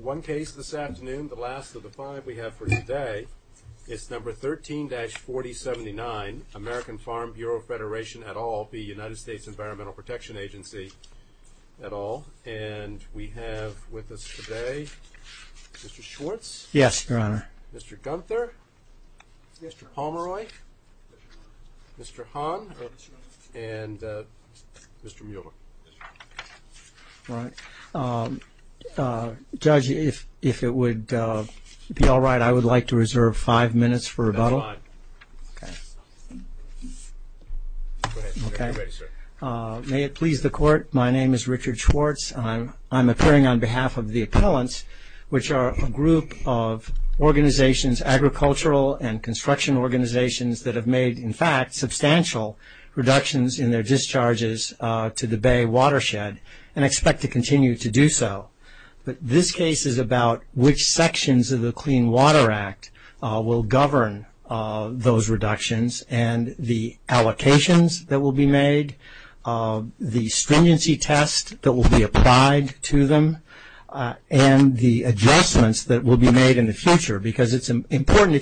One case this afternoon, the last of the five we have for today, is number 13-4079 American Farm Bureau Federation et al. v. United States Environmental Protection Agency et al. And we have with us today Mr. Schwartz. Yes, Your Honor. Mr. Gunther. Mr. Pomeroy. Mr. Hahn. And Mr. Mueller. Judge, if it would be all right, I would like to reserve five minutes for rebuttal. May it please the court, my name is Richard Schwartz. I'm an environmental and construction organizations that have made, in fact, substantial reductions in their discharges to the Bay watershed, and expect to continue to do so. But this case is about which sections of the Clean Water Act will govern those reductions, and the allocations that will be made, the stringency test that will be applied to them, and the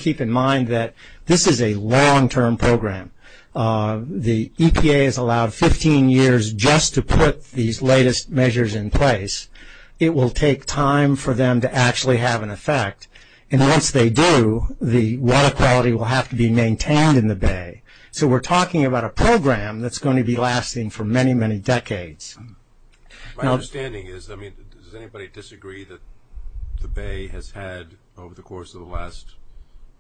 keep in mind that this is a long-term program. The EPA has allowed 15 years just to put these latest measures in place. It will take time for them to actually have an effect, and once they do, the water quality will have to be maintained in the Bay. So we're talking about a program that's going to be lasting for many, many decades. My understanding is, I mean, does anybody disagree that the Bay has had, over the course of the last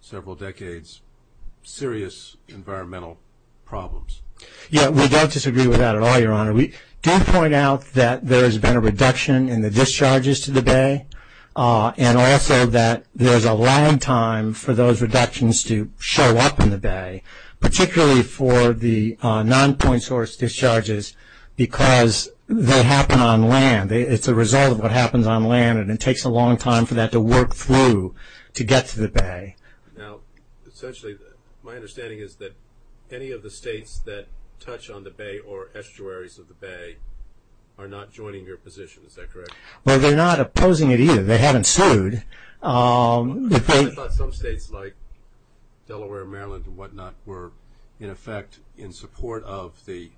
several decades, serious environmental problems? Yeah, we don't disagree with that at all, Your Honor. We do point out that there has been a reduction in the discharges to the Bay, and also that there's a long time for those reductions to show up in the Bay, particularly for the non-point source discharges, because they happen on land. It's a result of what happens on land, and it takes a long time for that to work through to get to the Bay. Now, essentially, my understanding is that any of the states that touch on the Bay or estuaries of the Bay are not joining your position. Is that correct? Well, they're not opposing it either. They haven't sued. I thought some states like Delaware, Maryland, and whatnot were, in effect, in support of the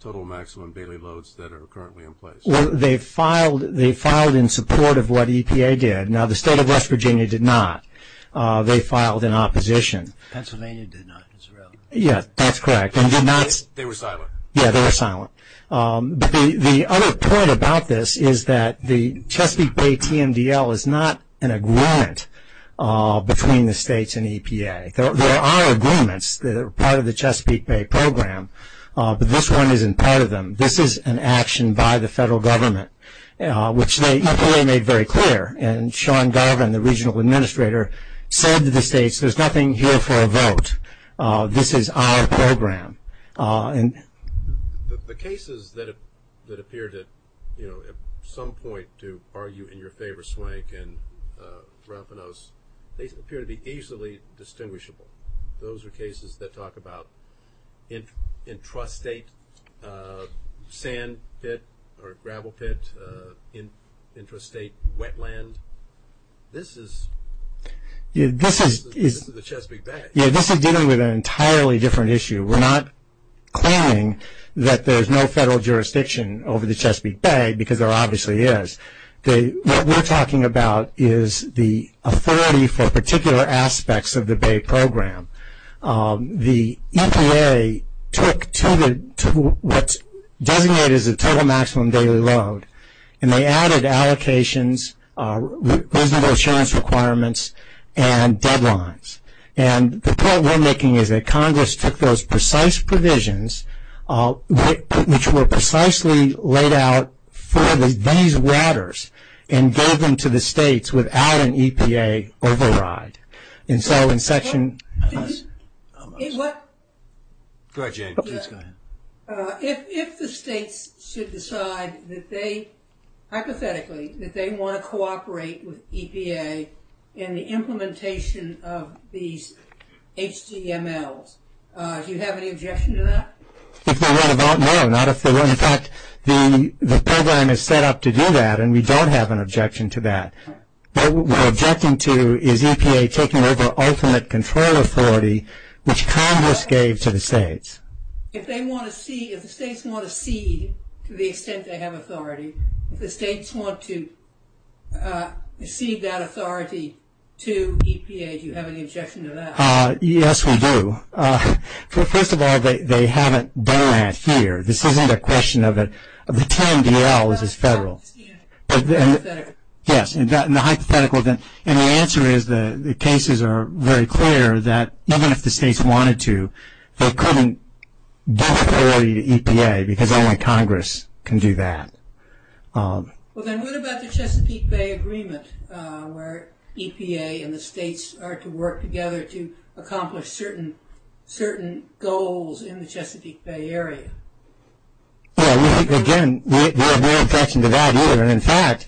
total maximum bailey loads that are currently in place. They filed in support of what EPA did. Now, the state of West Virginia did not. They filed in opposition. Pennsylvania did not. Yeah, that's correct. They were silent. Yeah, they were silent. The other point about this is that the Chesapeake Bay TMDL is not an agreement between the states and EPA. There are agreements that are part of the Chesapeake Bay program, but this one isn't part of them. This is an action by the federal government, which EPA made very clear, and Sean Garvin, the regional administrator, said to the states, there's nothing here for a vote. This is our program. The cases that appear to, at some point, to argue in your favor, Swank and Rampanos, they entrust state sand pit, or gravel pit, entrust state wetland. This is the Chesapeake Bay. Yeah, this is dealing with an entirely different issue. We're not claiming that there's no federal jurisdiction over the Chesapeake Bay, because there obviously is. What we're talking about is the authority for particular aspects of the Bay program. The EPA took what's designated as a total maximum daily load, and they added allocations, reasonable assurance requirements, and deadlines. The point we're making is that Congress took those precise provisions, which were precisely laid out for these waters, and gave them to the states without an EPA override. Go ahead, Jane. Please go ahead. If the states should decide that they, hypothetically, that they want to cooperate with EPA in the implementation of these HDMLs, do you have any objection to that? If they want to vote, no. In fact, the program is set up to do that, and we don't have an objection to that. What we're objecting to is EPA taking over ultimate control authority, which Congress gave to the states. If the states want to cede, to the extent they have authority, if the states want to cede that authority to EPA, do you have any objection to that? Yes, we do. First of all, they haven't done that here. This isn't a question of the TMDL, this is federal. Hypothetically. Yes, in the hypothetical, and the answer is the cases are very clear that even if the states wanted to, they couldn't give that authority to EPA because only Congress can do that. Well, then what about the Chesapeake Bay Agreement, where EPA and the states are to work together to accomplish certain goals in the Chesapeake Bay area? Again, we have no objection to that either. In fact,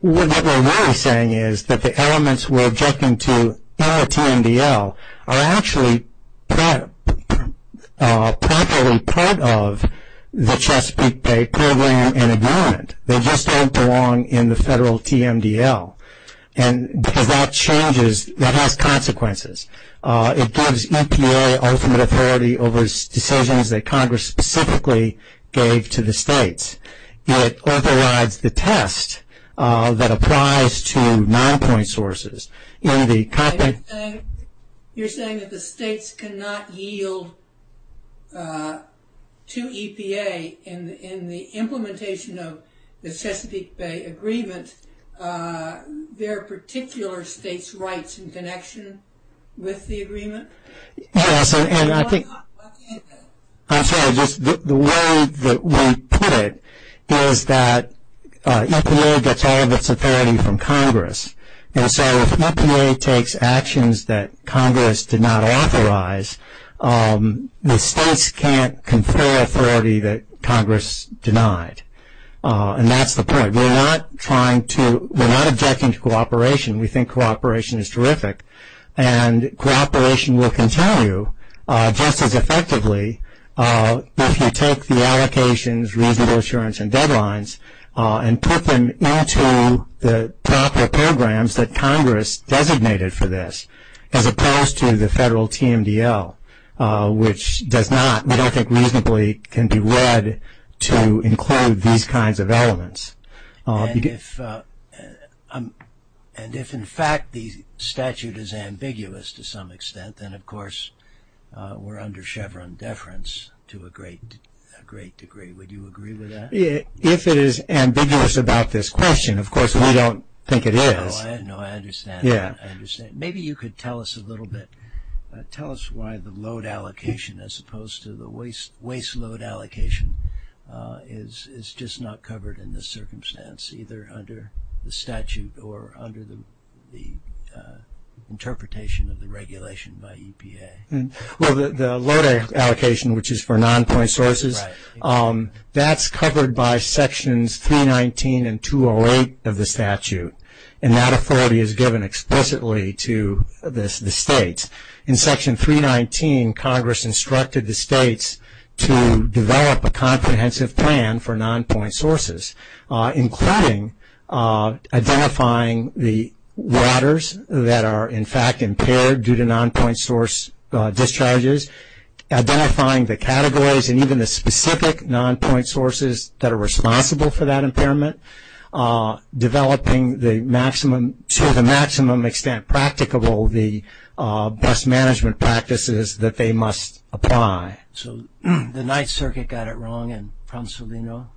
what we're really saying is that the elements we're objecting to in the TMDL are actually properly part of the Chesapeake Bay program and agreement. They just don't belong in the federal TMDL. Because that changes, that has consequences. It gives EPA ultimate authority over decisions that Congress specifically gave to the states. It authorizes the test that applies to nine point sources. You're saying that the states cannot yield to EPA in the implementation of the Chesapeake Bay Agreement their particular state's rights in connection with the agreement? I'm sorry, just the way that we put it is that EPA gets all of its authority from Congress, and so if EPA takes actions that Congress did not authorize, the states can't confer authority that Congress denied, and that's the point. We're not objecting to cooperation. We think cooperation is terrific, and cooperation will continue just as effectively if you take the allocations, reasonable assurance, and deadlines and put them into the proper programs that Congress designated for this, as opposed to the federal TMDL, which does not, we don't think reasonably can be read to include these kinds of elements. And if in fact the statute is ambiguous to some extent, then of course we're under Chevron deference to a great degree. Would you agree with that? If it is ambiguous about this question, of course we don't think it is. No, I understand. Maybe you could tell us a little bit, tell us why the load allocation as opposed to the waste load allocation is just not covered in this circumstance, either under the statute or under the interpretation of the regulation by EPA. Well, the load allocation, which is for non-point sources, that's covered by sections 319 and 208 of the statute, and that authority is given explicitly to the states. In section 319, Congress instructed the states to develop a comprehensive plan for non-point sources, including identifying the routers that are in fact impaired due to non-point source discharges, identifying the categories and even the specific non-point sources that are responsible for that impairment. Developing to the maximum extent practicable the bus management practices that they must apply. So the Ninth Circuit got it wrong and promptly wrong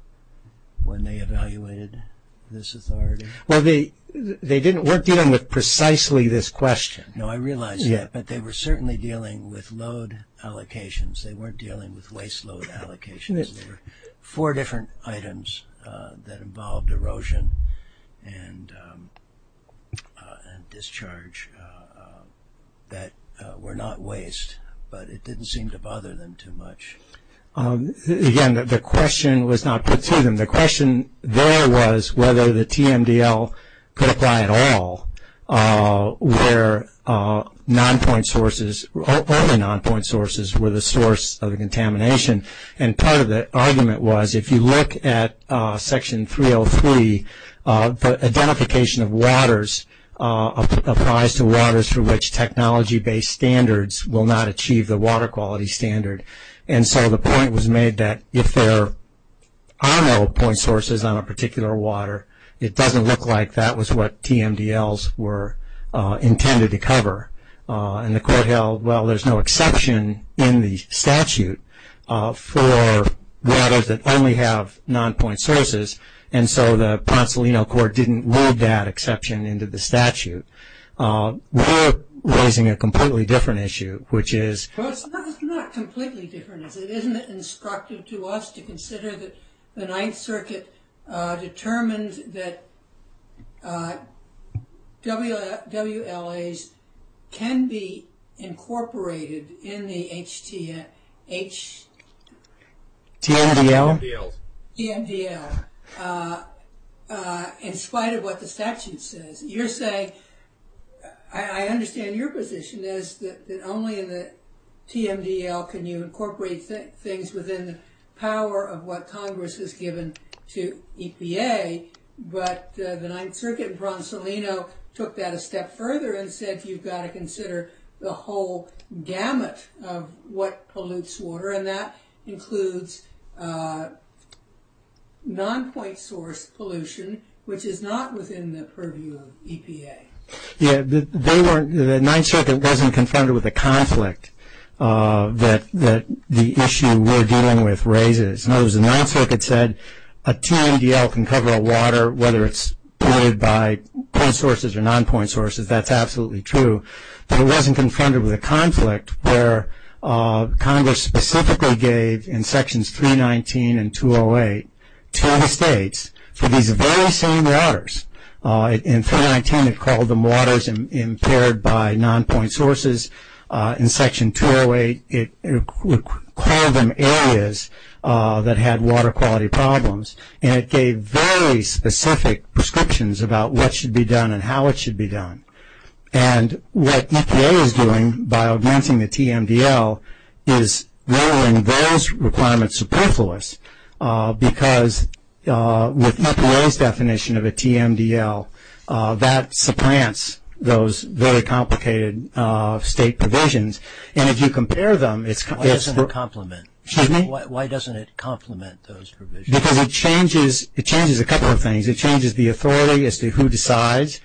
when they evaluated this authority? Well, they weren't dealing with precisely this question. No, I realize that, but they were certainly dealing with load allocations. They weren't dealing with waste load allocations. There were four different items that involved erosion and discharge that were not waste, but it didn't seem to bother them too much. Again, the question was not put to them. The question there was whether the TMDL could apply at all where non-point sources, only non-point sources were the source of the contamination, and part of the argument was if you look at section 303, the identification of waters applies to waters for which technology-based standards will not achieve the water quality standard. And so the point was made that if there are no point sources on a particular water, it doesn't look like that was what TMDLs were intended to cover. And the court held, well, there's no exception in the statute for waters that only have non-point sources, and so the Ponsalino Court didn't leave that exception into the statute. We're raising a completely different issue, which is... Well, it's not completely different. Isn't it instructive to us to consider that the Ninth Circuit determined that WLAs can be incorporated in the HTML... TMDLs. TMDLs, in spite of what the statute says. I understand your position is that only in the TMDL can you incorporate things within the power of what Congress has given to EPA, but the Ninth Circuit in Ponsalino took that a step further and said you've got to consider the whole gamut of what pollutes water, and that includes non-point source pollution, which is not within the purview of EPA. Yeah, the Ninth Circuit wasn't confronted with a conflict that the issue we're dealing with raises. In other words, the Ninth Circuit said a TMDL can cover a water, whether it's polluted by point sources or non-point sources, that's absolutely true. But it wasn't confronted with a conflict where Congress specifically gave, in Sections 319 and 208, to the states for these very same waters. In 319, it called them waters impaired by non-point sources. In Section 208, it called them areas that had water quality problems, and it gave very specific prescriptions about what should be done and how it should be done. And what EPA is doing, by augmenting the TMDL, is lowering those requirements superfluous, because with EPA's definition of a TMDL, that supplants those very complicated state provisions. And if you compare them, it's... Why doesn't it complement? Excuse me? Why doesn't it complement those provisions? Because it changes a couple of things. It changes the authority as to who decides.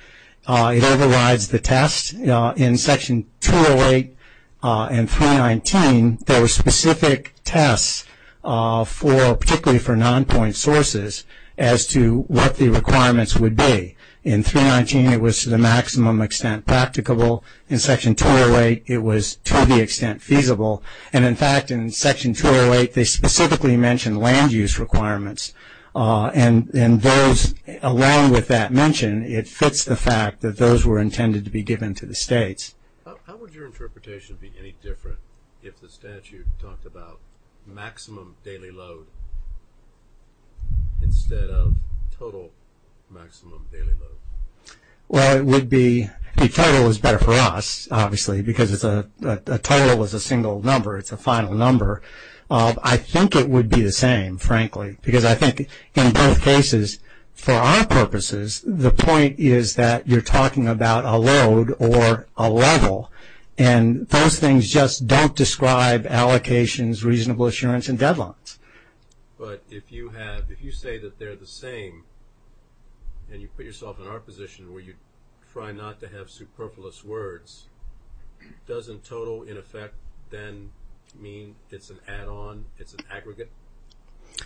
It overrides the test. In Section 208 and 319, there were specific tests, particularly for non-point sources, as to what the requirements would be. In 319, it was, to the maximum extent, practicable. In Section 208, it was, to the extent, feasible. And, in fact, in Section 208, they specifically mentioned land use requirements. And those, along with that mention, it fits the fact that those were intended to be given to the states. How would your interpretation be any different if the statute talked about maximum daily load, instead of total maximum daily load? Well, it would be... The total is better for us, obviously, because a total is a single number. It's a final number. I think it would be the same, frankly, because I think in both cases, for our purposes, the point is that you're talking about a load or a level, and those things just don't describe allocations, reasonable assurance, and deadlines. But if you have... If you say that they're the same and you put yourself in our position where you try not to have superfluous words, doesn't total, in effect, then mean it's an add-on? It's an aggregate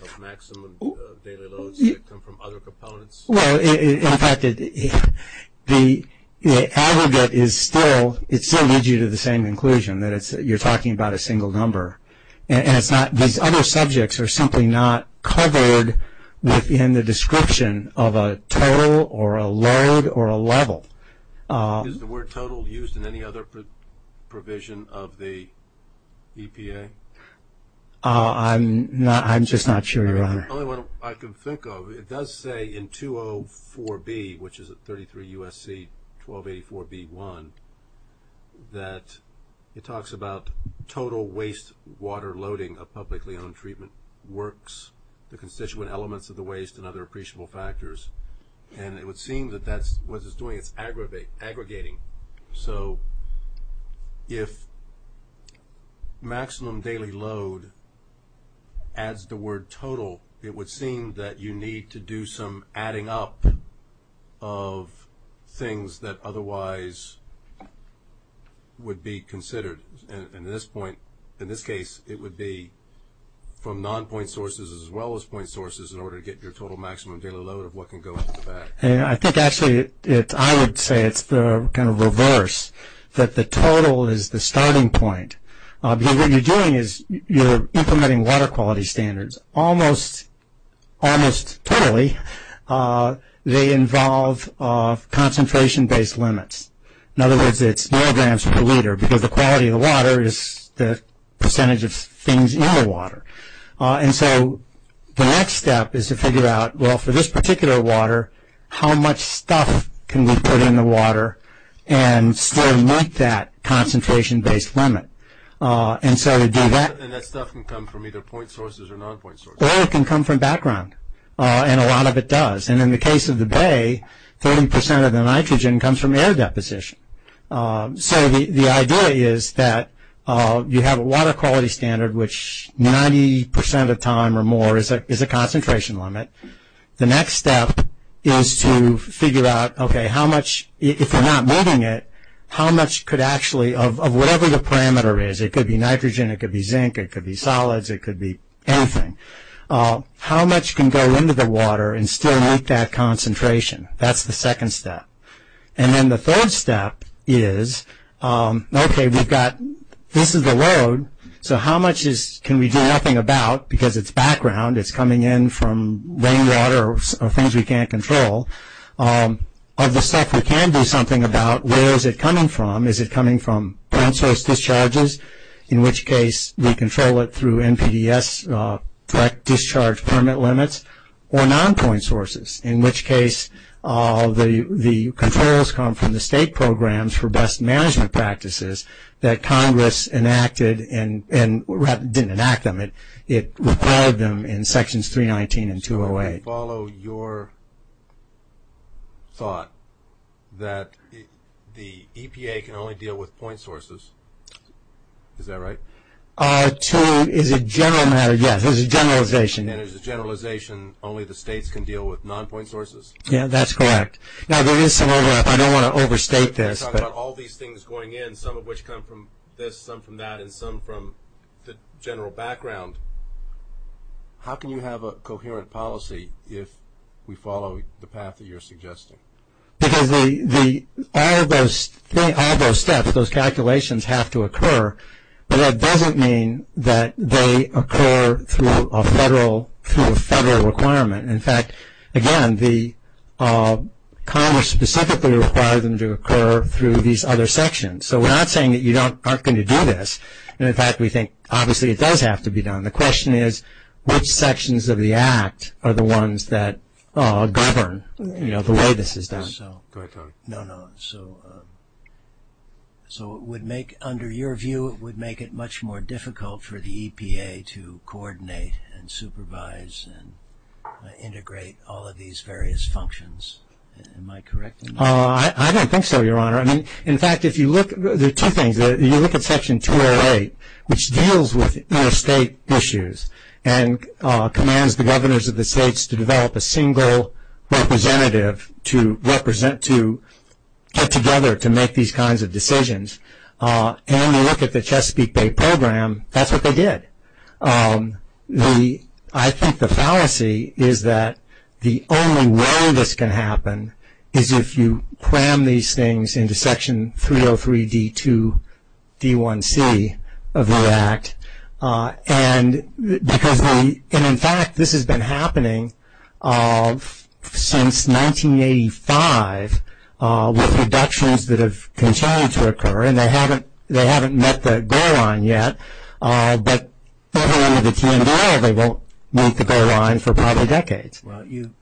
of maximum daily loads that come from other components? Well, in fact, the aggregate is still... It still leads you to the same conclusion, that you're talking about a single number. And it's not... These other subjects are simply not covered within the description of a total or a load or a level. Is the word total used in any other provision of the EPA? I'm just not sure, Your Honor. The only one I can think of, it does say in 204B, which is at 33 U.S.C. 1284B1, that it talks about total waste water loading of publicly owned treatment works, the constituent elements of the waste, and other appreciable factors. And it would seem that that's what it's doing. It's aggregating. So if maximum daily load adds the word total, it would seem that you need to do some adding up of things that otherwise would be considered. In this case, it would be from non-point sources as well as point sources in order to get your total maximum daily load of what can go into the bag. I think, actually, I would say it's the kind of reverse, that the total is the starting point. Because what you're doing is you're implementing water quality standards almost totally. They involve concentration-based limits. In other words, it's milligrams per liter, because the quality of the water is the percentage of things in the water. And so the next step is to figure out, well, for this particular water, how much stuff can we put in the water and still meet that concentration-based limit? And so to do that... And that stuff can come from either point sources or non-point sources. Oil can come from background, and a lot of it does. And in the case of the Bay, 30% of the nitrogen comes from air deposition. So the idea is that you have a water quality standard, which 90% of the time or more is a concentration limit. The next step is to figure out, okay, how much, if you're not moving it, how much could actually, of whatever the parameter is, it could be nitrogen, it could be zinc, it could be solids, it could be anything, how much can go into the water and still meet that concentration? That's the second step. And then the third step is, okay, we've got, this is the load, so how much can we do nothing about because it's background, it's coming in from rainwater or things we can't control. Of the stuff we can do something about, where is it coming from? Is it coming from point source discharges, in which case we control it through NPDES direct discharge permit limits, or non-point sources, in which case the controls come from the state programs for best management practices that Congress enacted and didn't enact them, it required them in sections 319 and 208. So I follow your thought that the EPA can only deal with point sources, is that right? To, as a general matter, yes, as a generalization. And as a generalization, only the states can deal with non-point sources? Yeah, that's correct. Now there is some overlap, I don't want to overstate this. You're talking about all these things going in, some of which come from this, some from that, and some from the general background. How can you have a coherent policy if we follow the path that you're suggesting? Because all those steps, those calculations have to occur, but that doesn't mean that they occur through a federal requirement. In fact, again, Congress specifically requires them to occur through these other sections. So we're not saying that you aren't going to do this. In fact, we think obviously it does have to be done. The question is which sections of the Act are the ones that govern the way this is done. No, no, so it would make, under your view, it would make it much more difficult for the EPA to coordinate and supervise and integrate all of these various functions. Am I correct in that? I don't think so, Your Honor. In fact, if you look, there are two things. You look at Section 208, which deals with interstate issues and commands the governors of the states to develop a single representative to get together to make these kinds of decisions. And you look at the Chesapeake Bay Program, that's what they did. I think the fallacy is that the only way this can happen is if you cram these things into Section 303D2D1C of the Act. And in fact, this has been happening since 1985 with reductions that have continued to occur, and they haven't met the goal line yet. But under the TMDA, they won't meet the goal line for probably decades. Well, you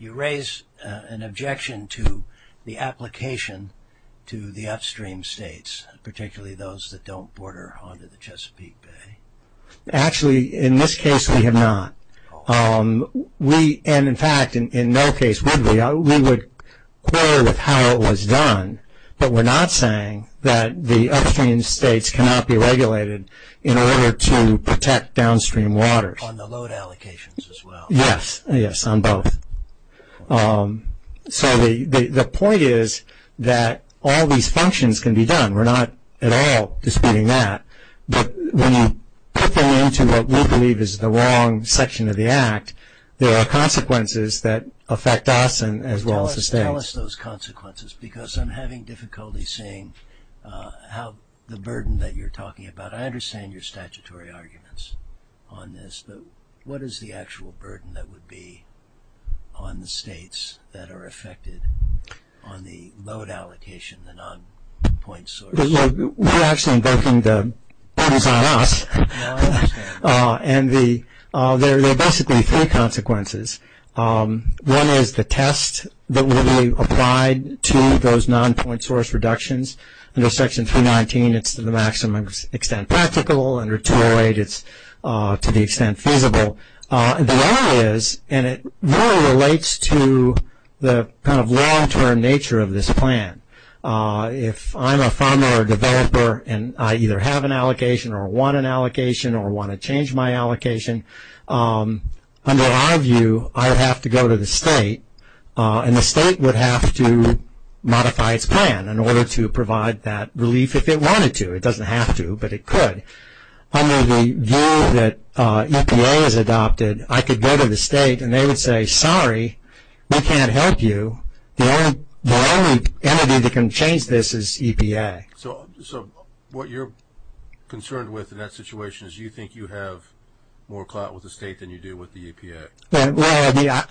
raise an objection to the application to the upstream states, particularly those that don't border onto the Chesapeake Bay. Actually, in this case, we have not. And in fact, in no case would we. We would quarrel with how it was done, but we're not saying that the upstream states cannot be regulated in order to protect downstream waters. On the load allocations as well. Yes, yes, on both. So the point is that all these functions can be done. We're not at all disputing that. But when you put them into what we believe is the wrong section of the Act, there are consequences that affect us as well as the states. Well, tell us those consequences, because I'm having difficulty seeing the burden that you're talking about. I understand your statutory arguments on this, but what is the actual burden that would be on the states that are affected on the load allocation, the non-point source? You're actually invoking the burdens on us. I understand. And there are basically three consequences. One is the test that will be applied to those non-point source reductions. Under Section 319, it's to the maximum extent practical. Under 208, it's to the extent feasible. The other is, and it really relates to the kind of long-term nature of this plan. If I'm a farmer or developer and I either have an allocation or want an allocation or want to change my allocation, under our view, I would have to go to the state, and the state would have to modify its plan in order to provide that relief if it wanted to. It doesn't have to, but it could. Under the view that EPA has adopted, I could go to the state and they would say, sorry, we can't help you. The only entity that can change this is EPA. So what you're concerned with in that situation is you think you have more clout with the state than you do with the EPA. Well,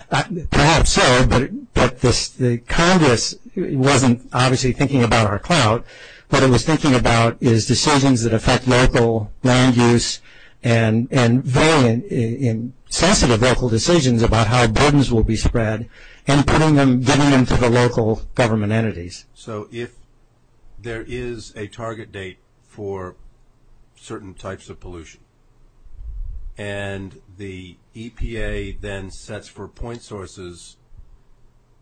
perhaps so, but the Congress wasn't obviously thinking about our clout. What it was thinking about is decisions that affect local land use and very sensitive local decisions about how burdens will be spread and getting them to the local government entities. So if there is a target date for certain types of pollution and the EPA then sets for point sources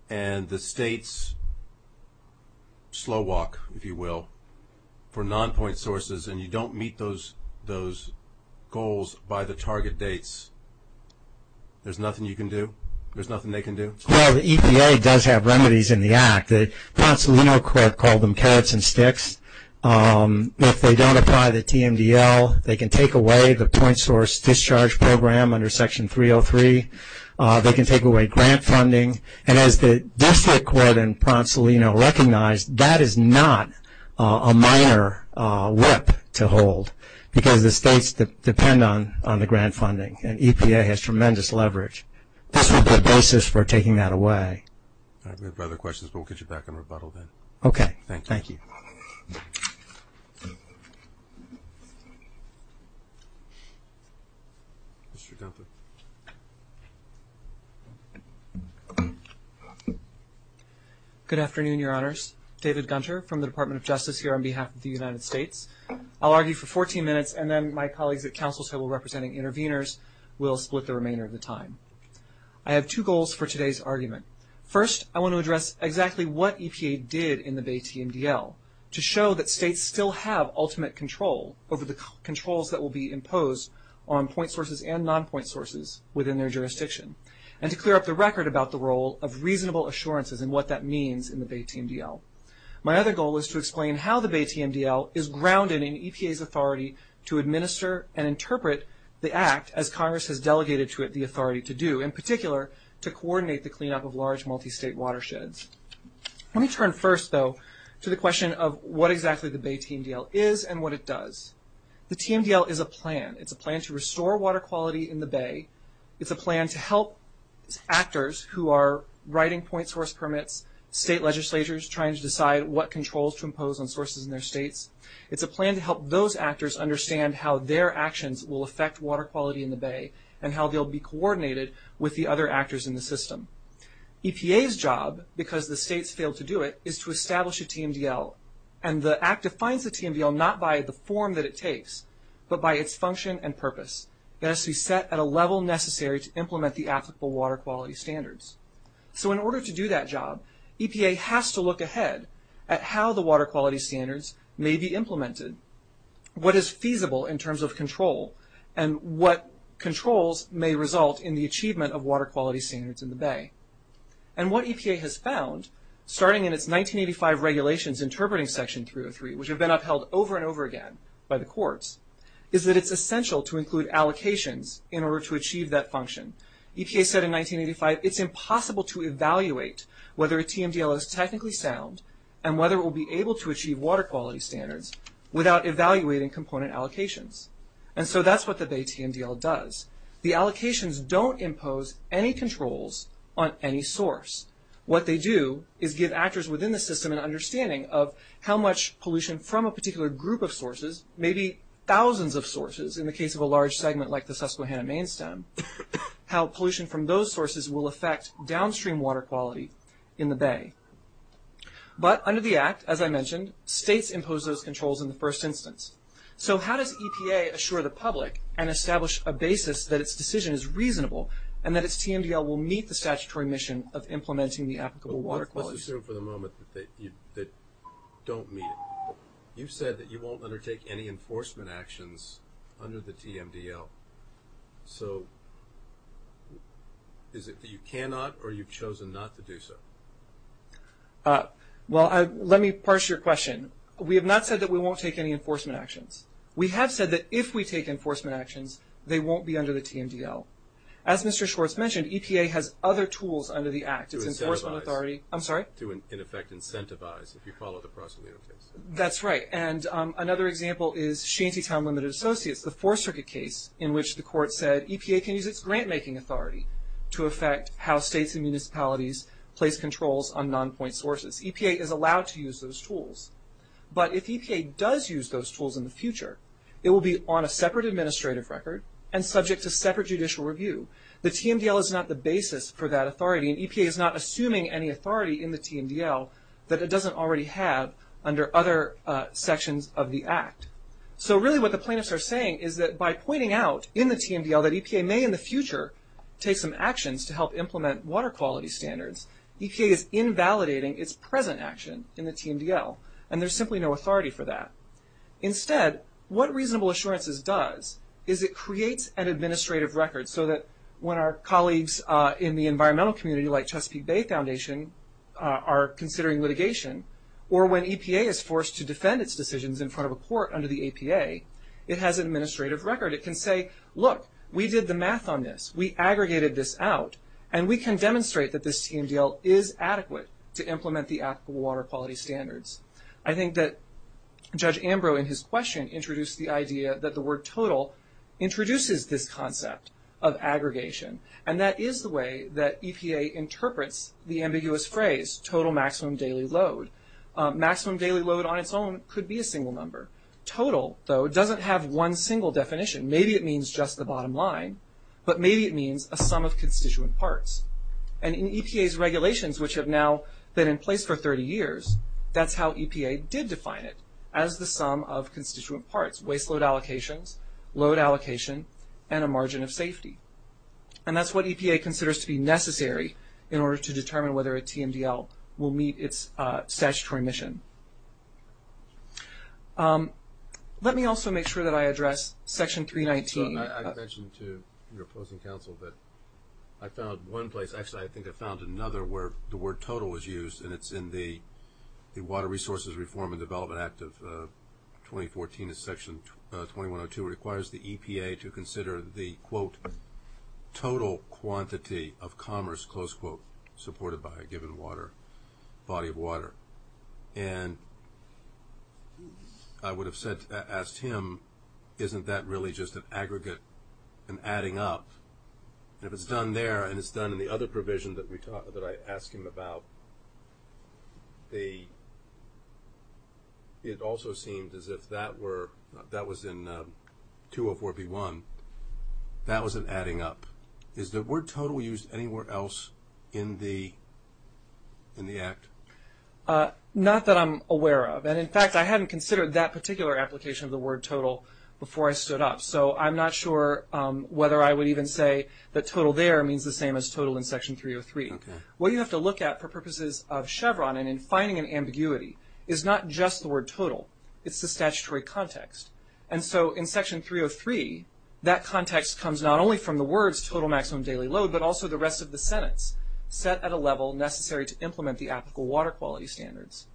and the states slow walk, if you will, for non-point sources and you don't meet those goals by the target dates, there's nothing you can do? There's nothing they can do? Well, the EPA does have remedies in the act. The Ponsalino Court called them carrots and sticks. If they don't apply the TMDL, they can take away the point source discharge program under Section 303. They can take away grant funding. And as the district court in Ponsalino recognized, that is not a minor whip to hold because the states depend on the grant funding, and EPA has tremendous leverage. This would be a basis for taking that away. All right, we have no other questions, but we'll get you back in rebuttal then. Okay. Thank you. Mr. Gunther. Good afternoon, Your Honors. David Gunther from the Department of Justice here on behalf of the United States. I'll argue for 14 minutes, and then my colleagues at counsel's table representing interveners will split the remainder of the time. I have two goals for today's argument. First, I want to address exactly what EPA did in the Bay TMDL to show that states still have ultimate control over the controls that will be imposed on point sources and non-point sources within their jurisdiction, and to clear up the record about the role of reasonable assurances and what that means in the Bay TMDL. My other goal is to explain how the Bay TMDL is grounded in EPA's authority to administer and interpret the act as Congress has delegated to it the authority to do, in particular, to coordinate the cleanup of large multi-state watersheds. Let me turn first, though, to the question of what exactly the Bay TMDL is and what it does. The TMDL is a plan. It's a plan to restore water quality in the Bay. It's a plan to help actors who are writing point source permits, state legislatures trying to decide what controls to impose on sources in their states. It's a plan to help those actors understand how their actions will affect water quality in the Bay and how they'll be coordinated with the other actors in the system. EPA's job, because the states failed to do it, is to establish a TMDL, and the act defines the TMDL not by the form that it takes, but by its function and purpose. It has to be set at a level necessary to implement the applicable water quality standards. So in order to do that job, EPA has to look ahead at how the water quality standards may be implemented, what is feasible in terms of control, and what controls may result in the achievement of water quality standards in the Bay. And what EPA has found, starting in its 1985 regulations interpreting Section 303, which have been upheld over and over again by the courts, is that it's essential to include allocations in order to achieve that function. EPA said in 1985, it's impossible to evaluate whether a TMDL is technically sound and whether it will be able to achieve water quality standards without evaluating component allocations. And so that's what the Bay TMDL does. The allocations don't impose any controls on any source. What they do is give actors within the system an understanding of how much pollution from a particular group of sources, maybe thousands of sources in the case of a large segment like the Susquehanna main stem, how pollution from those sources will affect downstream water quality in the Bay. But under the Act, as I mentioned, states impose those controls in the first instance. So how does EPA assure the public and establish a basis that its decision is reasonable and that its TMDL will meet the statutory mission of implementing the applicable water qualities? Let's assume for the moment that you don't meet it. You've said that you won't undertake any enforcement actions under the TMDL. So is it that you cannot or you've chosen not to do so? Well, let me parse your question. We have not said that we won't take any enforcement actions. We have said that if we take enforcement actions, they won't be under the TMDL. As Mr. Schwartz mentioned, EPA has other tools under the Act. It's Enforcement Authority. To incentivize. I'm sorry? To, in effect, incentivize, if you follow the prosimino case. That's right. And another example is Shantytown Limited Associates, the Fourth Circuit case in which the court said EPA can use its grant-making authority to affect how states and municipalities place controls on non-point sources. EPA is allowed to use those tools. But if EPA does use those tools in the future, it will be on a separate administrative record and subject to separate judicial review. The TMDL is not the basis for that authority, and EPA is not assuming any authority in the TMDL that it doesn't already have under other sections of the Act. So really what the plaintiffs are saying is that by pointing out in the TMDL that EPA may in the future take some actions to help implement water quality standards, EPA is invalidating its present action in the TMDL, and there's simply no authority for that. Instead, what Reasonable Assurances does is it creates an administrative record so that when our colleagues in the environmental community, like Chesapeake Bay Foundation, are considering litigation, or when EPA is forced to defend its decisions in front of a court under the APA, it has an administrative record. It can say, look, we did the math on this, we aggregated this out, and we can demonstrate that this TMDL is adequate to implement the applicable water quality standards. I think that Judge Ambrose, in his question, introduced the idea that the word total introduces this concept of aggregation, and that is the way that EPA interprets the ambiguous phrase total maximum daily load. Maximum daily load on its own could be a single number. Total, though, doesn't have one single definition. Maybe it means just the bottom line, but maybe it means a sum of constituent parts. And in EPA's regulations, which have now been in place for 30 years, that's how EPA did define it as the sum of constituent parts, waste load allocations, load allocation, and a margin of safety. And that's what EPA considers to be necessary in order to determine whether a TMDL will meet its statutory mission. Let me also make sure that I address Section 319. I mentioned to your opposing counsel that I found one place, actually I think I found another where the word total was used, and it's in the Water Resources Reform and Development Act of 2014. Section 2102 requires the EPA to consider the, quote, total quantity of commerce, close quote, supported by a given body of water. And I would have asked him, isn't that really just an aggregate, an adding up? And if it's done there and it's done in the other provision that I asked him about, it also seemed as if that was in 204B1, that was an adding up. Is the word total used anywhere else in the Act? Not that I'm aware of. And, in fact, I hadn't considered that particular application of the word total before I stood up. So I'm not sure whether I would even say that total there means the same as total in Section 303. What you have to look at for purposes of Chevron and in finding an ambiguity is not just the word total, it's the statutory context. And so in Section 303, that context comes not only from the words total maximum daily load, but also the rest of the sentence set at a level necessary to implement the applicable water quality standards.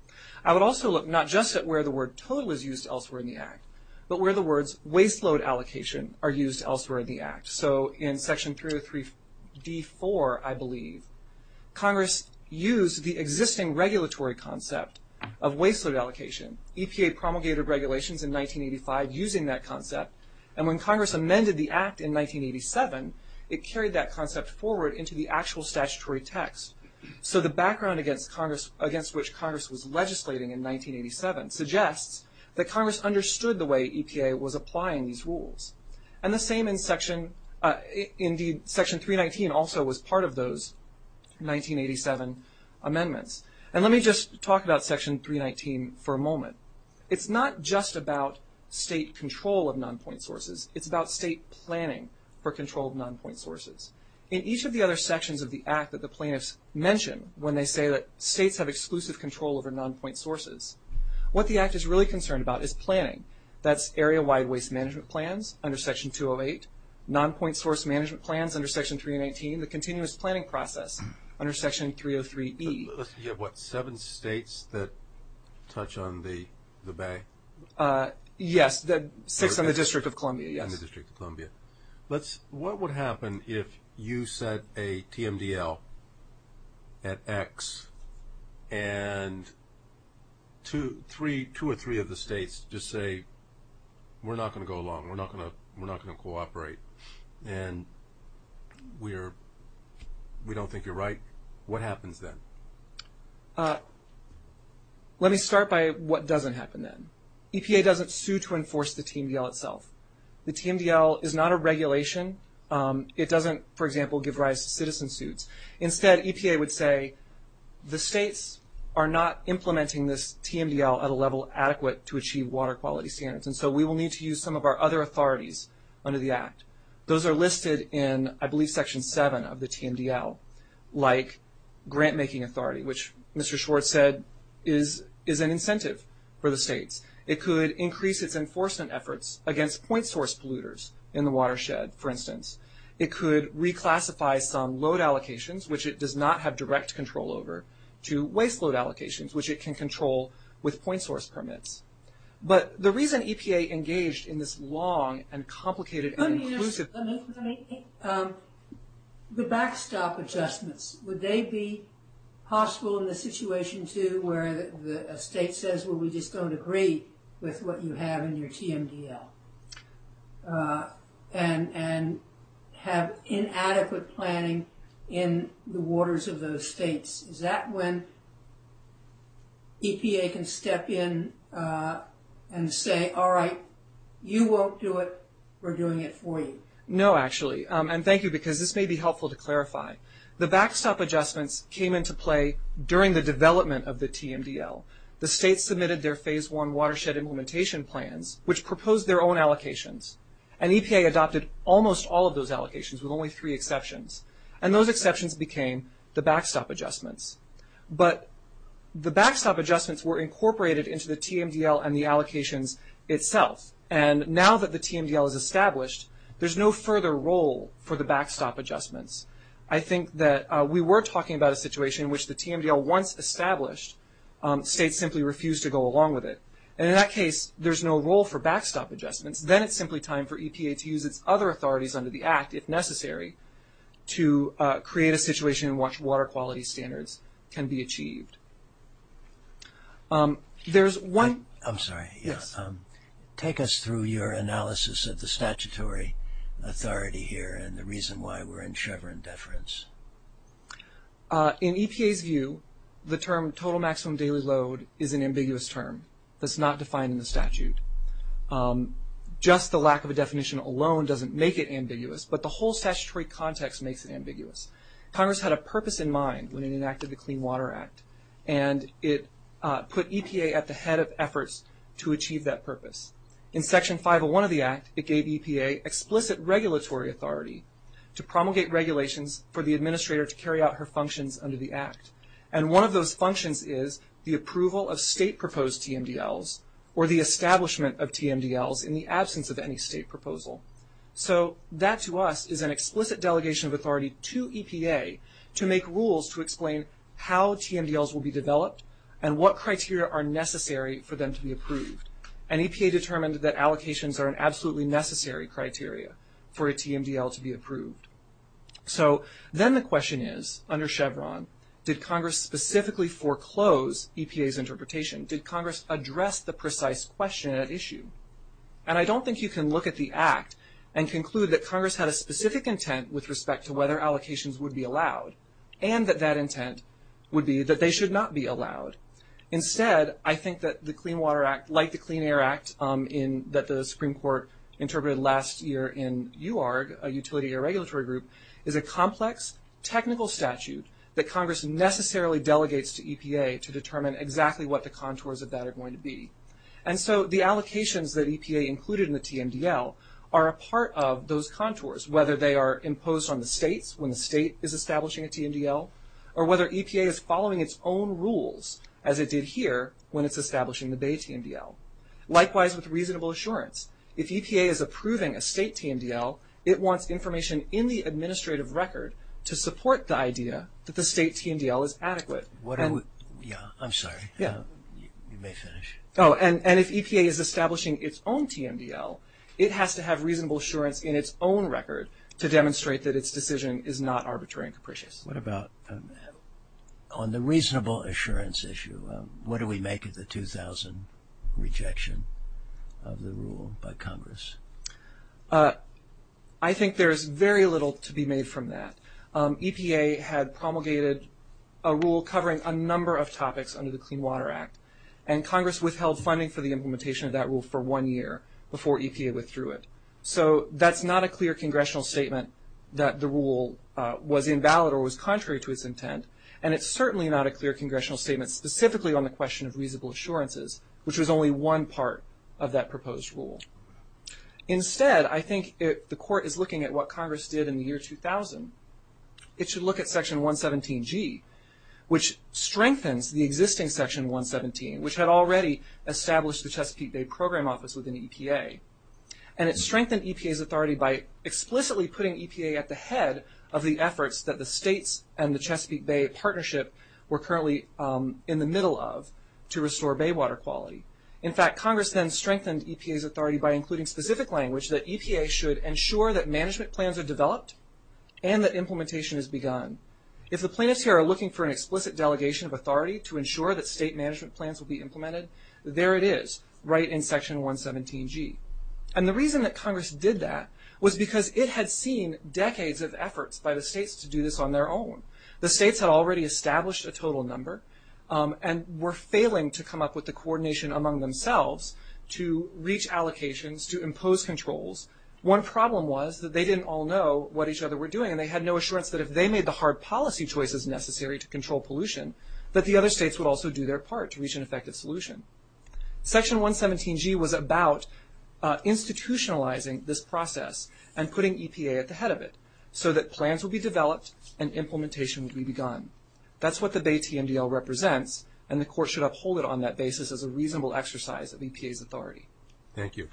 I would also look not just at where the word total is used elsewhere in the Act, but where the words waste load allocation are used elsewhere in the Act. So in Section 303D4, I believe, Congress used the existing regulatory concept of waste load allocation. EPA promulgated regulations in 1985 using that concept. And when Congress amended the Act in 1987, it carried that concept forward into the actual statutory text. So the background against which Congress was legislating in 1987 suggests that Congress understood the way EPA was applying these rules. And the same in Section 319 also was part of those 1987 amendments. And let me just talk about Section 319 for a moment. It's not just about state control of non-point sources. It's about state planning for control of non-point sources. In each of the other sections of the Act that the plaintiffs mention when they say that states have exclusive control over non-point sources, what the Act is really concerned about is planning. That's area-wide waste management plans under Section 208, non-point source management plans under Section 319, the continuous planning process under Section 303E. You have, what, seven states that touch on the Bay? Yes, six in the District of Columbia. In the District of Columbia. What would happen if you set a TMDL at X and two or three of the states just say, we're not going to go along, we're not going to cooperate, and we don't think you're right? What happens then? Let me start by what doesn't happen then. EPA doesn't sue to enforce the TMDL itself. The TMDL is not a regulation. It doesn't, for example, give rise to citizen suits. Instead, EPA would say the states are not implementing this TMDL at a level adequate to achieve water quality standards, and so we will need to use some of our other authorities under the Act. Those are listed in, I believe, Section 7 of the TMDL, like grant-making authority, which Mr. Schwartz said is an incentive for the states. It could increase its enforcement efforts against point-source polluters in the watershed, for instance. It could reclassify some load allocations, which it does not have direct control over, to waste-load allocations, which it can control with point-source permits. But the reason EPA engaged in this long and complicated and inclusive process Let me ask you something. The backstop adjustments, would they be possible in the situation, too, where a state says, well, we just don't agree with what you have in your TMDL and have inadequate planning in the waters of those states? Is that when EPA can step in and say, all right, you won't do it, we're doing it for you? No, actually, and thank you, because this may be helpful to clarify. The backstop adjustments came into play during the development of the TMDL. The states submitted their Phase I watershed implementation plans, which proposed their own allocations. And EPA adopted almost all of those allocations, with only three exceptions. And those exceptions became the backstop adjustments. But the backstop adjustments were incorporated into the TMDL and the allocations itself. And now that the TMDL is established, there's no further role for the backstop adjustments. I think that we were talking about a situation in which the TMDL, once established, states simply refuse to go along with it. And in that case, there's no role for backstop adjustments. Then it's simply time for EPA to use its other authorities under the Act, if necessary, to create a situation in which water quality standards can be achieved. There's one – I'm sorry. Yes. Take us through your analysis of the statutory authority here and the reason why we're in Chevron deference. In EPA's view, the term total maximum daily load is an ambiguous term. It's not defined in the statute. Just the lack of a definition alone doesn't make it ambiguous, but the whole statutory context makes it ambiguous. Congress had a purpose in mind when it enacted the Clean Water Act, and it put EPA at the head of efforts to achieve that purpose. In Section 501 of the Act, it gave EPA explicit regulatory authority to promulgate regulations for the administrator to carry out her functions under the Act. And one of those functions is the approval of state-proposed TMDLs or the establishment of TMDLs in the absence of any state proposal. So that, to us, is an explicit delegation of authority to EPA to make rules to explain how TMDLs will be developed and what criteria are necessary for them to be approved. And EPA determined that allocations are an absolutely necessary criteria for a TMDL to be approved. So then the question is, under Chevron, did Congress specifically foreclose EPA's interpretation? Did Congress address the precise question at issue? And I don't think you can look at the Act and conclude that Congress had a specific intent with respect to whether allocations would be allowed and that that intent would be that they should not be allowed. Instead, I think that the Clean Water Act, like the Clean Air Act that the Supreme Court interpreted last year in UARG, a utility regulatory group, is a complex technical statute that Congress necessarily delegates to EPA to determine exactly what the contours of that are going to be. And so the allocations that EPA included in the TMDL are a part of those contours, whether they are imposed on the states when the state is establishing a TMDL or whether EPA is following its own rules, as it did here when it's establishing the Bay TMDL. Likewise, with reasonable assurance, if EPA is approving a state TMDL, it wants information in the administrative record to support the idea that the state TMDL is adequate. Yeah, I'm sorry. You may finish. Oh, and if EPA is establishing its own TMDL, it has to have reasonable assurance in its own record to demonstrate that its decision is not arbitrary and capricious. What about on the reasonable assurance issue? What do we make of the 2,000 rejection of the rule by Congress? I think there is very little to be made from that. EPA had promulgated a rule covering a number of topics under the Clean Water Act, and Congress withheld funding for the implementation of that rule for one year before EPA withdrew it. So that's not a clear congressional statement that the rule was invalid or was contrary to its intent, and it's certainly not a clear congressional statement specifically on the question of reasonable assurances, which was only one part of that proposed rule. Instead, I think the Court is looking at what Congress did in the year 2000. It should look at Section 117G, which strengthens the existing Section 117, which had already established the Chesapeake Bay Program Office within EPA. And it strengthened EPA's authority by explicitly putting EPA at the head of the efforts that the states and the Chesapeake Bay Partnership were currently in the middle of to restore bay water quality. In fact, Congress then strengthened EPA's authority by including specific language that EPA should ensure that management plans are developed and that implementation has begun. If the plaintiffs here are looking for an explicit delegation of authority to ensure that state management plans will be implemented, there it is, right in Section 117G. And the reason that Congress did that was because it had seen decades of efforts by the states to do this on their own. The states had already established a total number and were failing to come up with the coordination among themselves to reach allocations, to impose controls. One problem was that they didn't all know what each other were doing, and they had no assurance that if they made the hard policy choices necessary to control pollution, that the other states would also do their part to reach an effective solution. Section 117G was about institutionalizing this process and putting EPA at the head of it so that plans would be developed and implementation would be begun. That's what the Bay TMDL represents, and the Court should uphold it on that basis as a reasonable exercise of EPA's authority. Thank you.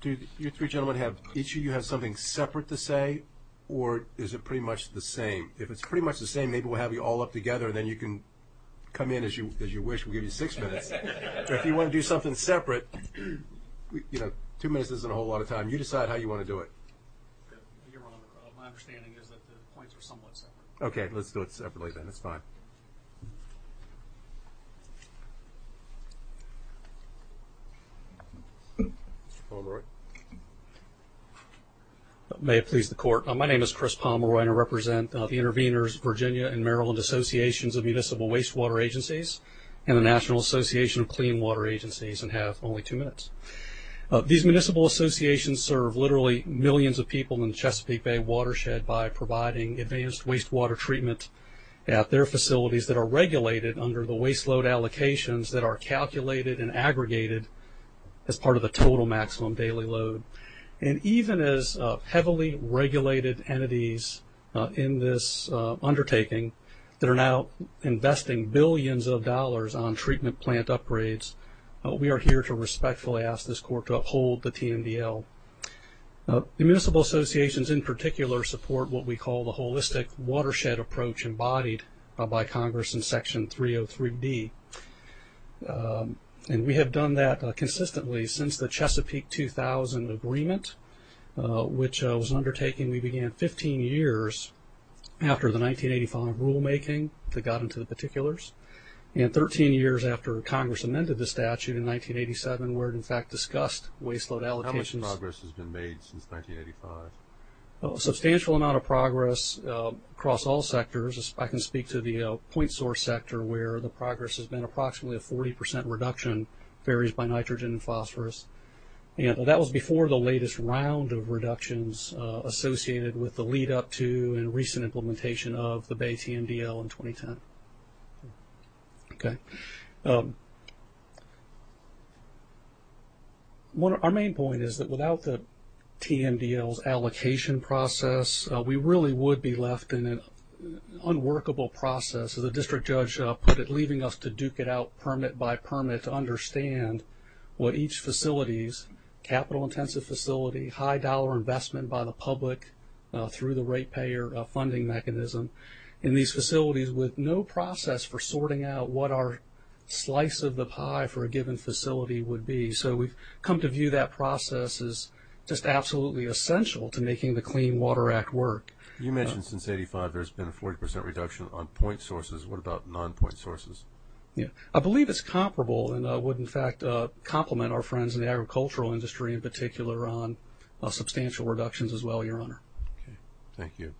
Do you three gentlemen each of you have something separate to say, or is it pretty much the same? If it's pretty much the same, maybe we'll have you all up together, and then you can come in as you wish. We'll give you six minutes. If you want to do something separate, two minutes isn't a whole lot of time. You decide how you want to do it. Your Honor, my understanding is that the points are somewhat separate. Okay, let's do it separately then. It's fine. Mr. Pomeroy. May it please the Court. My name is Chris Pomeroy, and I represent the Intervenors Virginia and Maryland Associations of Municipal Wastewater Agencies and the National Association of Clean Water Agencies, and have only two minutes. These municipal associations serve literally millions of people in the Chesapeake Bay watershed by providing advanced wastewater treatment at their facilities that are regulated under the waste load allocations that are calculated and aggregated as part of the total maximum daily load. And even as heavily regulated entities in this undertaking that are now investing billions of dollars on treatment plant upgrades, we are here to respectfully ask this Court to uphold the TMDL. The municipal associations in particular support what we call the holistic watershed approach embodied by Congress in Section 303B. And we have done that consistently since the Chesapeake 2000 agreement, which was an undertaking we began 15 years after the 1985 rulemaking that got into the particulars, and 13 years after Congress amended the statute in 1987 where it in fact discussed waste load allocations. How much progress has been made since 1985? A substantial amount of progress across all sectors. I can speak to the point source sector where the progress has been approximately a 40 percent reduction in ferries by nitrogen and phosphorus. That was before the latest round of reductions associated with the lead-up to and recent implementation of the Bay TMDL in 2010. Okay. Our main point is that without the TMDL's allocation process, we really would be left in an unworkable process. As the district judge put it, leaving us to duke it out permit by permit to understand what each facility's capital-intensive facility, high-dollar investment by the public through the ratepayer funding mechanism, and these facilities with no process for sorting out what our slice of the pie for a given facility would be. So we've come to view that process as just absolutely essential to making the Clean Water Act work. You mentioned since 1985 there's been a 40 percent reduction on point sources. What about non-point sources? I believe it's comparable and would, in fact, complement our friends in the agricultural industry, in particular on substantial reductions as well, Your Honor. Okay. Thank you.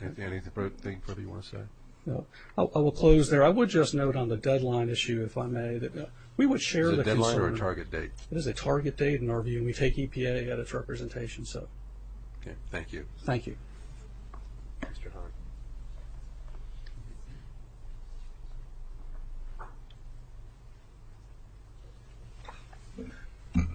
Anything further you want to say? No. I will close there. I would just note on the deadline issue, if I may, that we would share the concern. Is it a deadline or a target date? It is a target date in our view, and we take EPA at its representation. Okay. Thank you. Thank you. Mr. Hahn.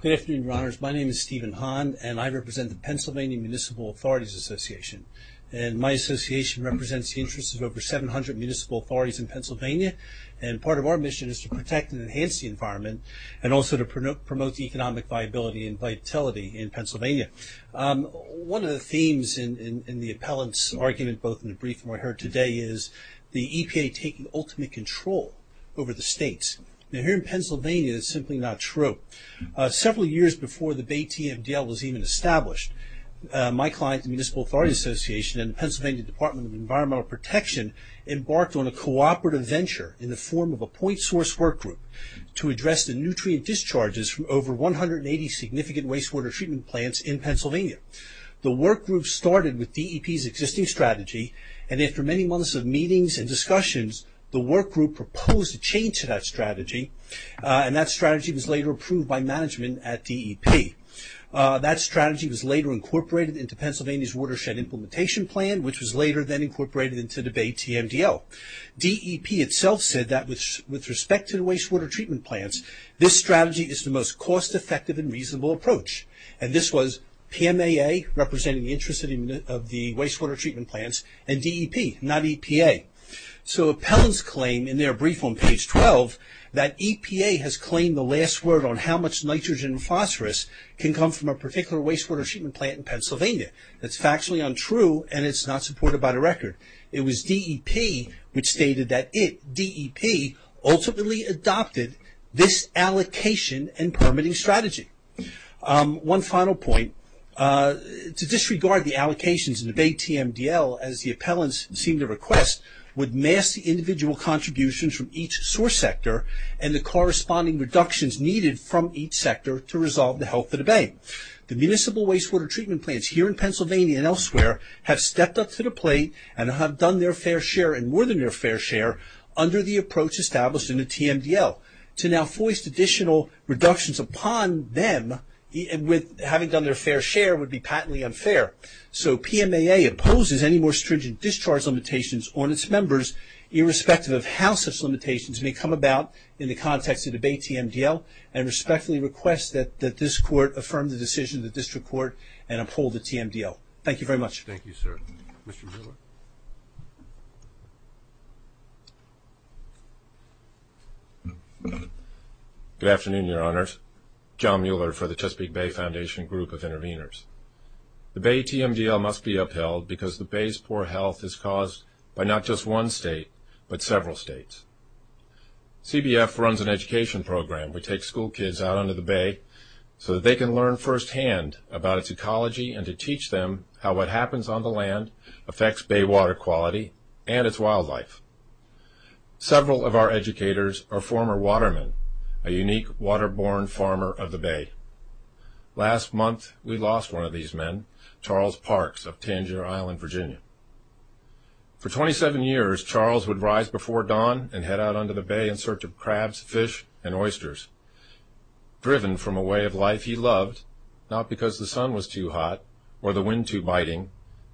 Good afternoon, Your Honors. My name is Stephen Hahn, and I represent the Pennsylvania Municipal Authorities Association. And my association represents the interests of over 700 municipal authorities in Pennsylvania, and part of our mission is to protect and enhance the environment and also to promote economic viability and vitality in Pennsylvania. One of the themes in the appellant's argument, both in the brief and what I heard today, is the EPA taking ultimate control over the states. Now, here in Pennsylvania, that's simply not true. Several years before the Bay TMDL was even established, my client, the Municipal Authorities Association, and the Pennsylvania Department of Environmental Protection, embarked on a cooperative venture in the form of a point source work group to address the nutrient discharges from over 180 significant wastewater treatment plants in Pennsylvania. The work group started with DEP's existing strategy, and after many months of meetings and discussions, the work group proposed a change to that strategy, and that strategy was later approved by management at DEP. That strategy was later incorporated into Pennsylvania's watershed implementation plan, which was later then incorporated into the Bay TMDL. DEP itself said that with respect to the wastewater treatment plants, this strategy is the most cost-effective and reasonable approach, and this was PMAA, representing the interest of the wastewater treatment plants, and DEP, not EPA. So appellants claim in their brief on page 12 that EPA has claimed the last word on how much nitrogen and phosphorus can come from a particular wastewater treatment plant in Pennsylvania. That's factually untrue, and it's not supported by the record. It was DEP which stated that it, DEP, ultimately adopted this allocation and permitting strategy. One final point. To disregard the allocations in the Bay TMDL, as the appellants seem to request, would mask the individual contributions from each source sector and the corresponding reductions needed from each sector to resolve the health of the Bay. The municipal wastewater treatment plants here in Pennsylvania and elsewhere have stepped up to the plate and have done their fair share and this was established in the TMDL. To now foist additional reductions upon them, having done their fair share, would be patently unfair. So PMAA opposes any more stringent discharge limitations on its members, irrespective of how such limitations may come about in the context of the Bay TMDL, and respectfully requests that this court affirm the decision of the district court and uphold the TMDL. Thank you very much. Thank you, sir. Mr. Mueller. Good afternoon, Your Honors. John Mueller for the Chesapeake Bay Foundation Group of Interveners. The Bay TMDL must be upheld because the Bay's poor health is caused by not just one state, but several states. CBF runs an education program. We take school kids out onto the Bay so that they can learn firsthand about its ecology and to teach them how what happens on the land affects bay water quality and its wildlife. Several of our educators are former watermen, a unique waterborne farmer of the Bay. Last month, we lost one of these men, Charles Parks of Tangier Island, Virginia. For 27 years, Charles would rise before dawn and head out onto the Bay in search of crabs, fish, and oysters. Driven from a way of life he loved, not because the sun was too hot or the wind too biting,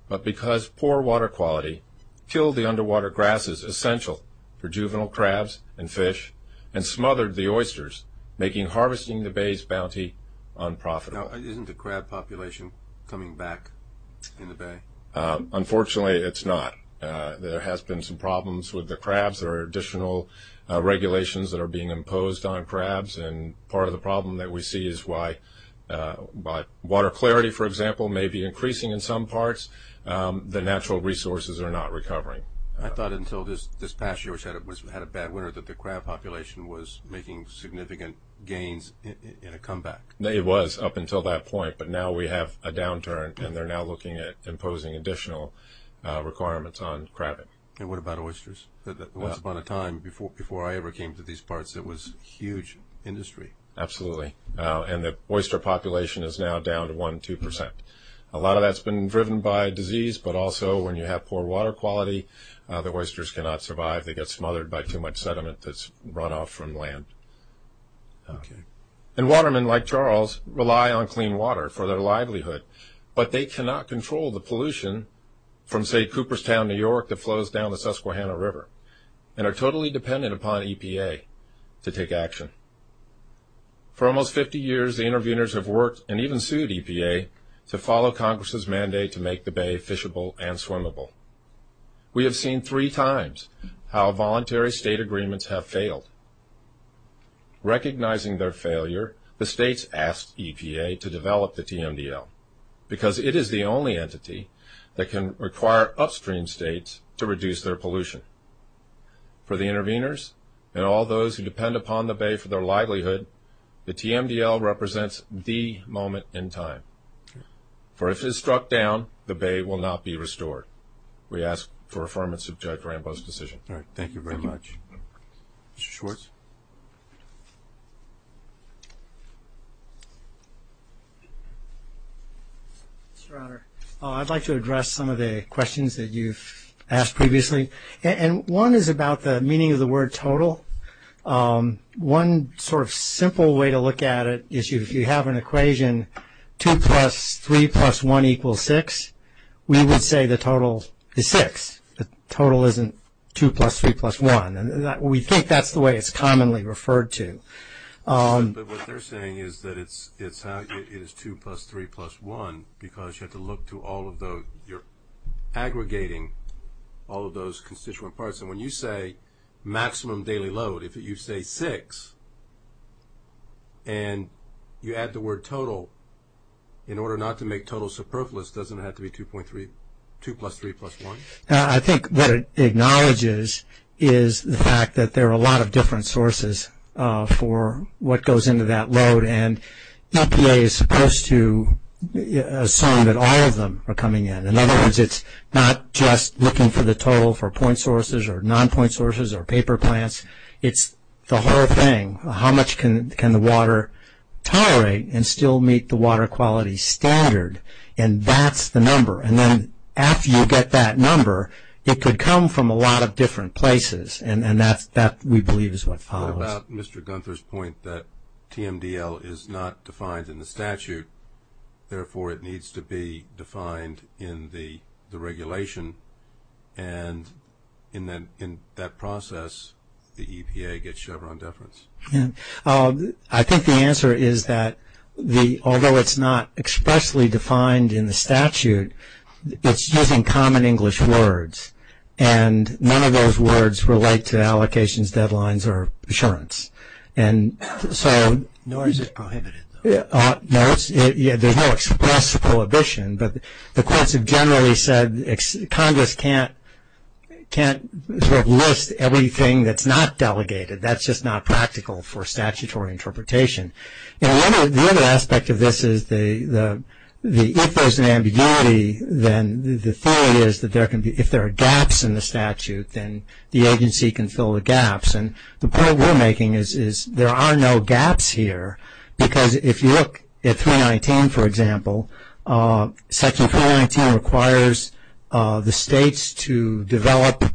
but because poor water quality killed the underwater grasses essential for juvenile crabs and fish and smothered the oysters, making harvesting the Bay's bounty unprofitable. Now, isn't the crab population coming back in the Bay? Unfortunately, it's not. There has been some problems with the crabs. There are additional regulations that are being imposed on crabs, and part of the problem that we see is why water clarity, for example, may be increasing in some parts. The natural resources are not recovering. I thought until this past year, which had a bad winter, that the crab population was making significant gains in a comeback. It was up until that point. But now we have a downturn, and they're now looking at imposing additional requirements on crabbing. And what about oysters? Once upon a time, before I ever came to these parts, it was a huge industry. Absolutely. And the oyster population is now down to one, two percent. A lot of that's been driven by disease, but also when you have poor water quality, the oysters cannot survive. They get smothered by too much sediment that's run off from land. Okay. And watermen like Charles rely on clean water for their livelihood, but they cannot control the pollution from, say, Cooperstown, New York, that flows down the Susquehanna River, and are totally dependent upon EPA to take action. For almost 50 years, the interveners have worked and even sued EPA to follow Congress' mandate to make the bay fishable and swimmable. We have seen three times how voluntary state agreements have failed. Recognizing their failure, the states asked EPA to develop the TMDL, because it is the only entity that can require upstream states to reduce their pollution. For the interveners and all those who depend upon the bay for their livelihood, the TMDL represents the moment in time. For if it is struck down, the bay will not be restored. We ask for affirmance of Judge Rambo's decision. All right. Thank you very much. Mr. Schwartz. I'd like to address some of the questions that you've asked previously. And one is about the meaning of the word total. One sort of simple way to look at it is if you have an equation 2 plus 3 plus 1 equals 6, we would say the total is 6. The total isn't 2 plus 3 plus 1. We think that's the way it's commonly referred to. But what they're saying is that it's 2 plus 3 plus 1 because you have to look to all of those. You're aggregating all of those constituent parts. And when you say maximum daily load, if you say 6 and you add the word total, in order not to make total superfluous, doesn't it have to be 2 plus 3 plus 1? I think what it acknowledges is the fact that there are a lot of different sources for what goes into that load. And EPA is supposed to assume that all of them are coming in. In other words, it's not just looking for the total for point sources or non-point sources or paper plants. It's the whole thing. How much can the water tolerate and still meet the water quality standard? And that's the number. And then after you get that number, it could come from a lot of different places. And that, we believe, is what follows. What about Mr. Gunther's point that TMDL is not defined in the statute, therefore it needs to be defined in the regulation. And in that process, the EPA gets Chevron deference. I think the answer is that although it's not expressly defined in the statute, it's using common English words. And none of those words relate to allocations, deadlines, or assurance. Nor is it prohibited, though. No, there's no express prohibition. But the courts have generally said Congress can't sort of list everything that's not delegated. That's just not practical for statutory interpretation. And the other aspect of this is if there's an ambiguity, then the theory is that if there are gaps in the statute, then the agency can fill the gaps. And the point we're making is there are no gaps here. Because if you look at 319, for example, section 319 requires the states to develop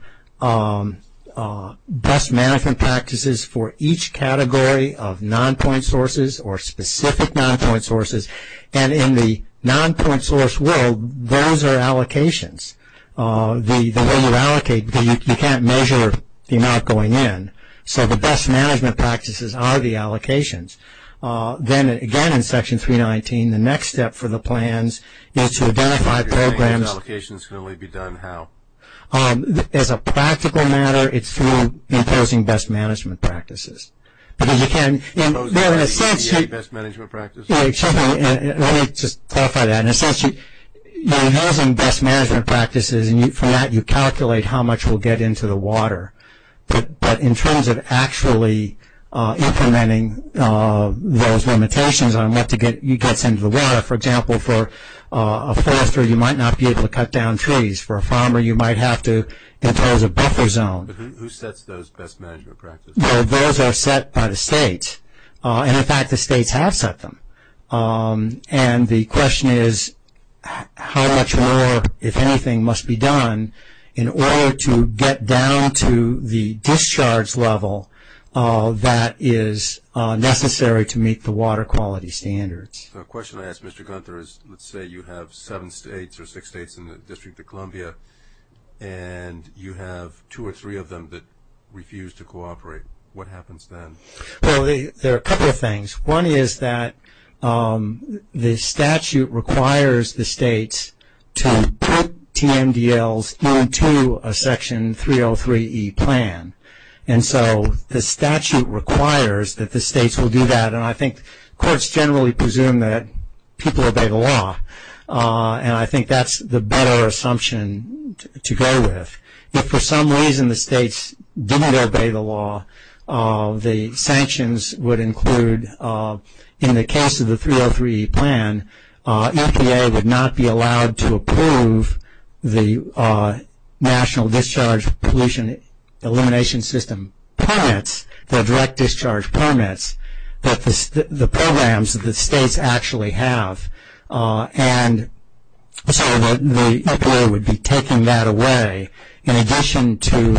best management practices for each category of non-point sources or specific non-point sources. And in the non-point source world, those are allocations. The way you allocate, you can't measure the amount going in. So the best management practices are the allocations. Then, again, in section 319, the next step for the plans is to identify programs. If you're saying these allocations can only be done how? As a practical matter, it's through imposing best management practices. Imposing best management practices? Let me just clarify that. In a sense, you're imposing best management practices, and from that you calculate how much will get into the water. But in terms of actually implementing those limitations on what gets into the water, for example, for a forester, you might not be able to cut down trees. For a farmer, you might have to impose a buffer zone. Who sets those best management practices? Those are set by the states. And, in fact, the states have set them. And the question is how much more, if anything, must be done in order to get down to the discharge level that is necessary to meet the water quality standards. The question I ask Mr. Gunther is, let's say you have seven states or six states in the District of Columbia, and you have two or three of them that refuse to cooperate. What happens then? Well, there are a couple of things. One is that the statute requires the states to put TMDLs into a Section 303e plan. And so the statute requires that the states will do that, and I think courts generally presume that people obey the law, and I think that's the better assumption to go with. If, for some reason, the states didn't obey the law, the sanctions would include, in the case of the 303e plan, EPA would not be allowed to approve the National Discharge Pollution Elimination System permits, the direct discharge permits that the programs of the states actually have. And so the EPA would be taking that away, in addition to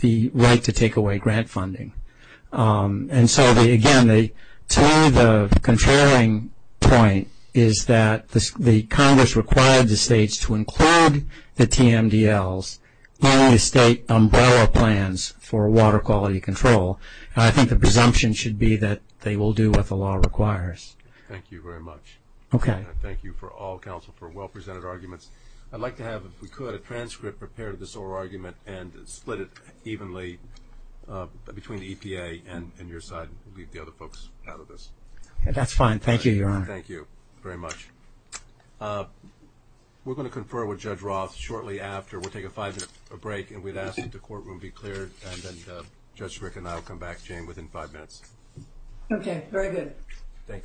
the right to take away grant funding. And so, again, to me the contrary point is that the Congress required the states to include the TMDLs in the state umbrella plans for water quality control. I think the presumption should be that they will do what the law requires. Thank you very much. Okay. And thank you for all counsel for well-presented arguments. I'd like to have, if we could, a transcript prepared of this oral argument and split it evenly between the EPA and your side and leave the other folks out of this. That's fine. Thank you, Your Honor. Thank you very much. We're going to confer with Judge Roth shortly after. We'll take a five-minute break, and we'd ask that the courtroom be cleared, and then Judge Rick and I will come back, Jane, within five minutes. Okay. Very good. Thank you.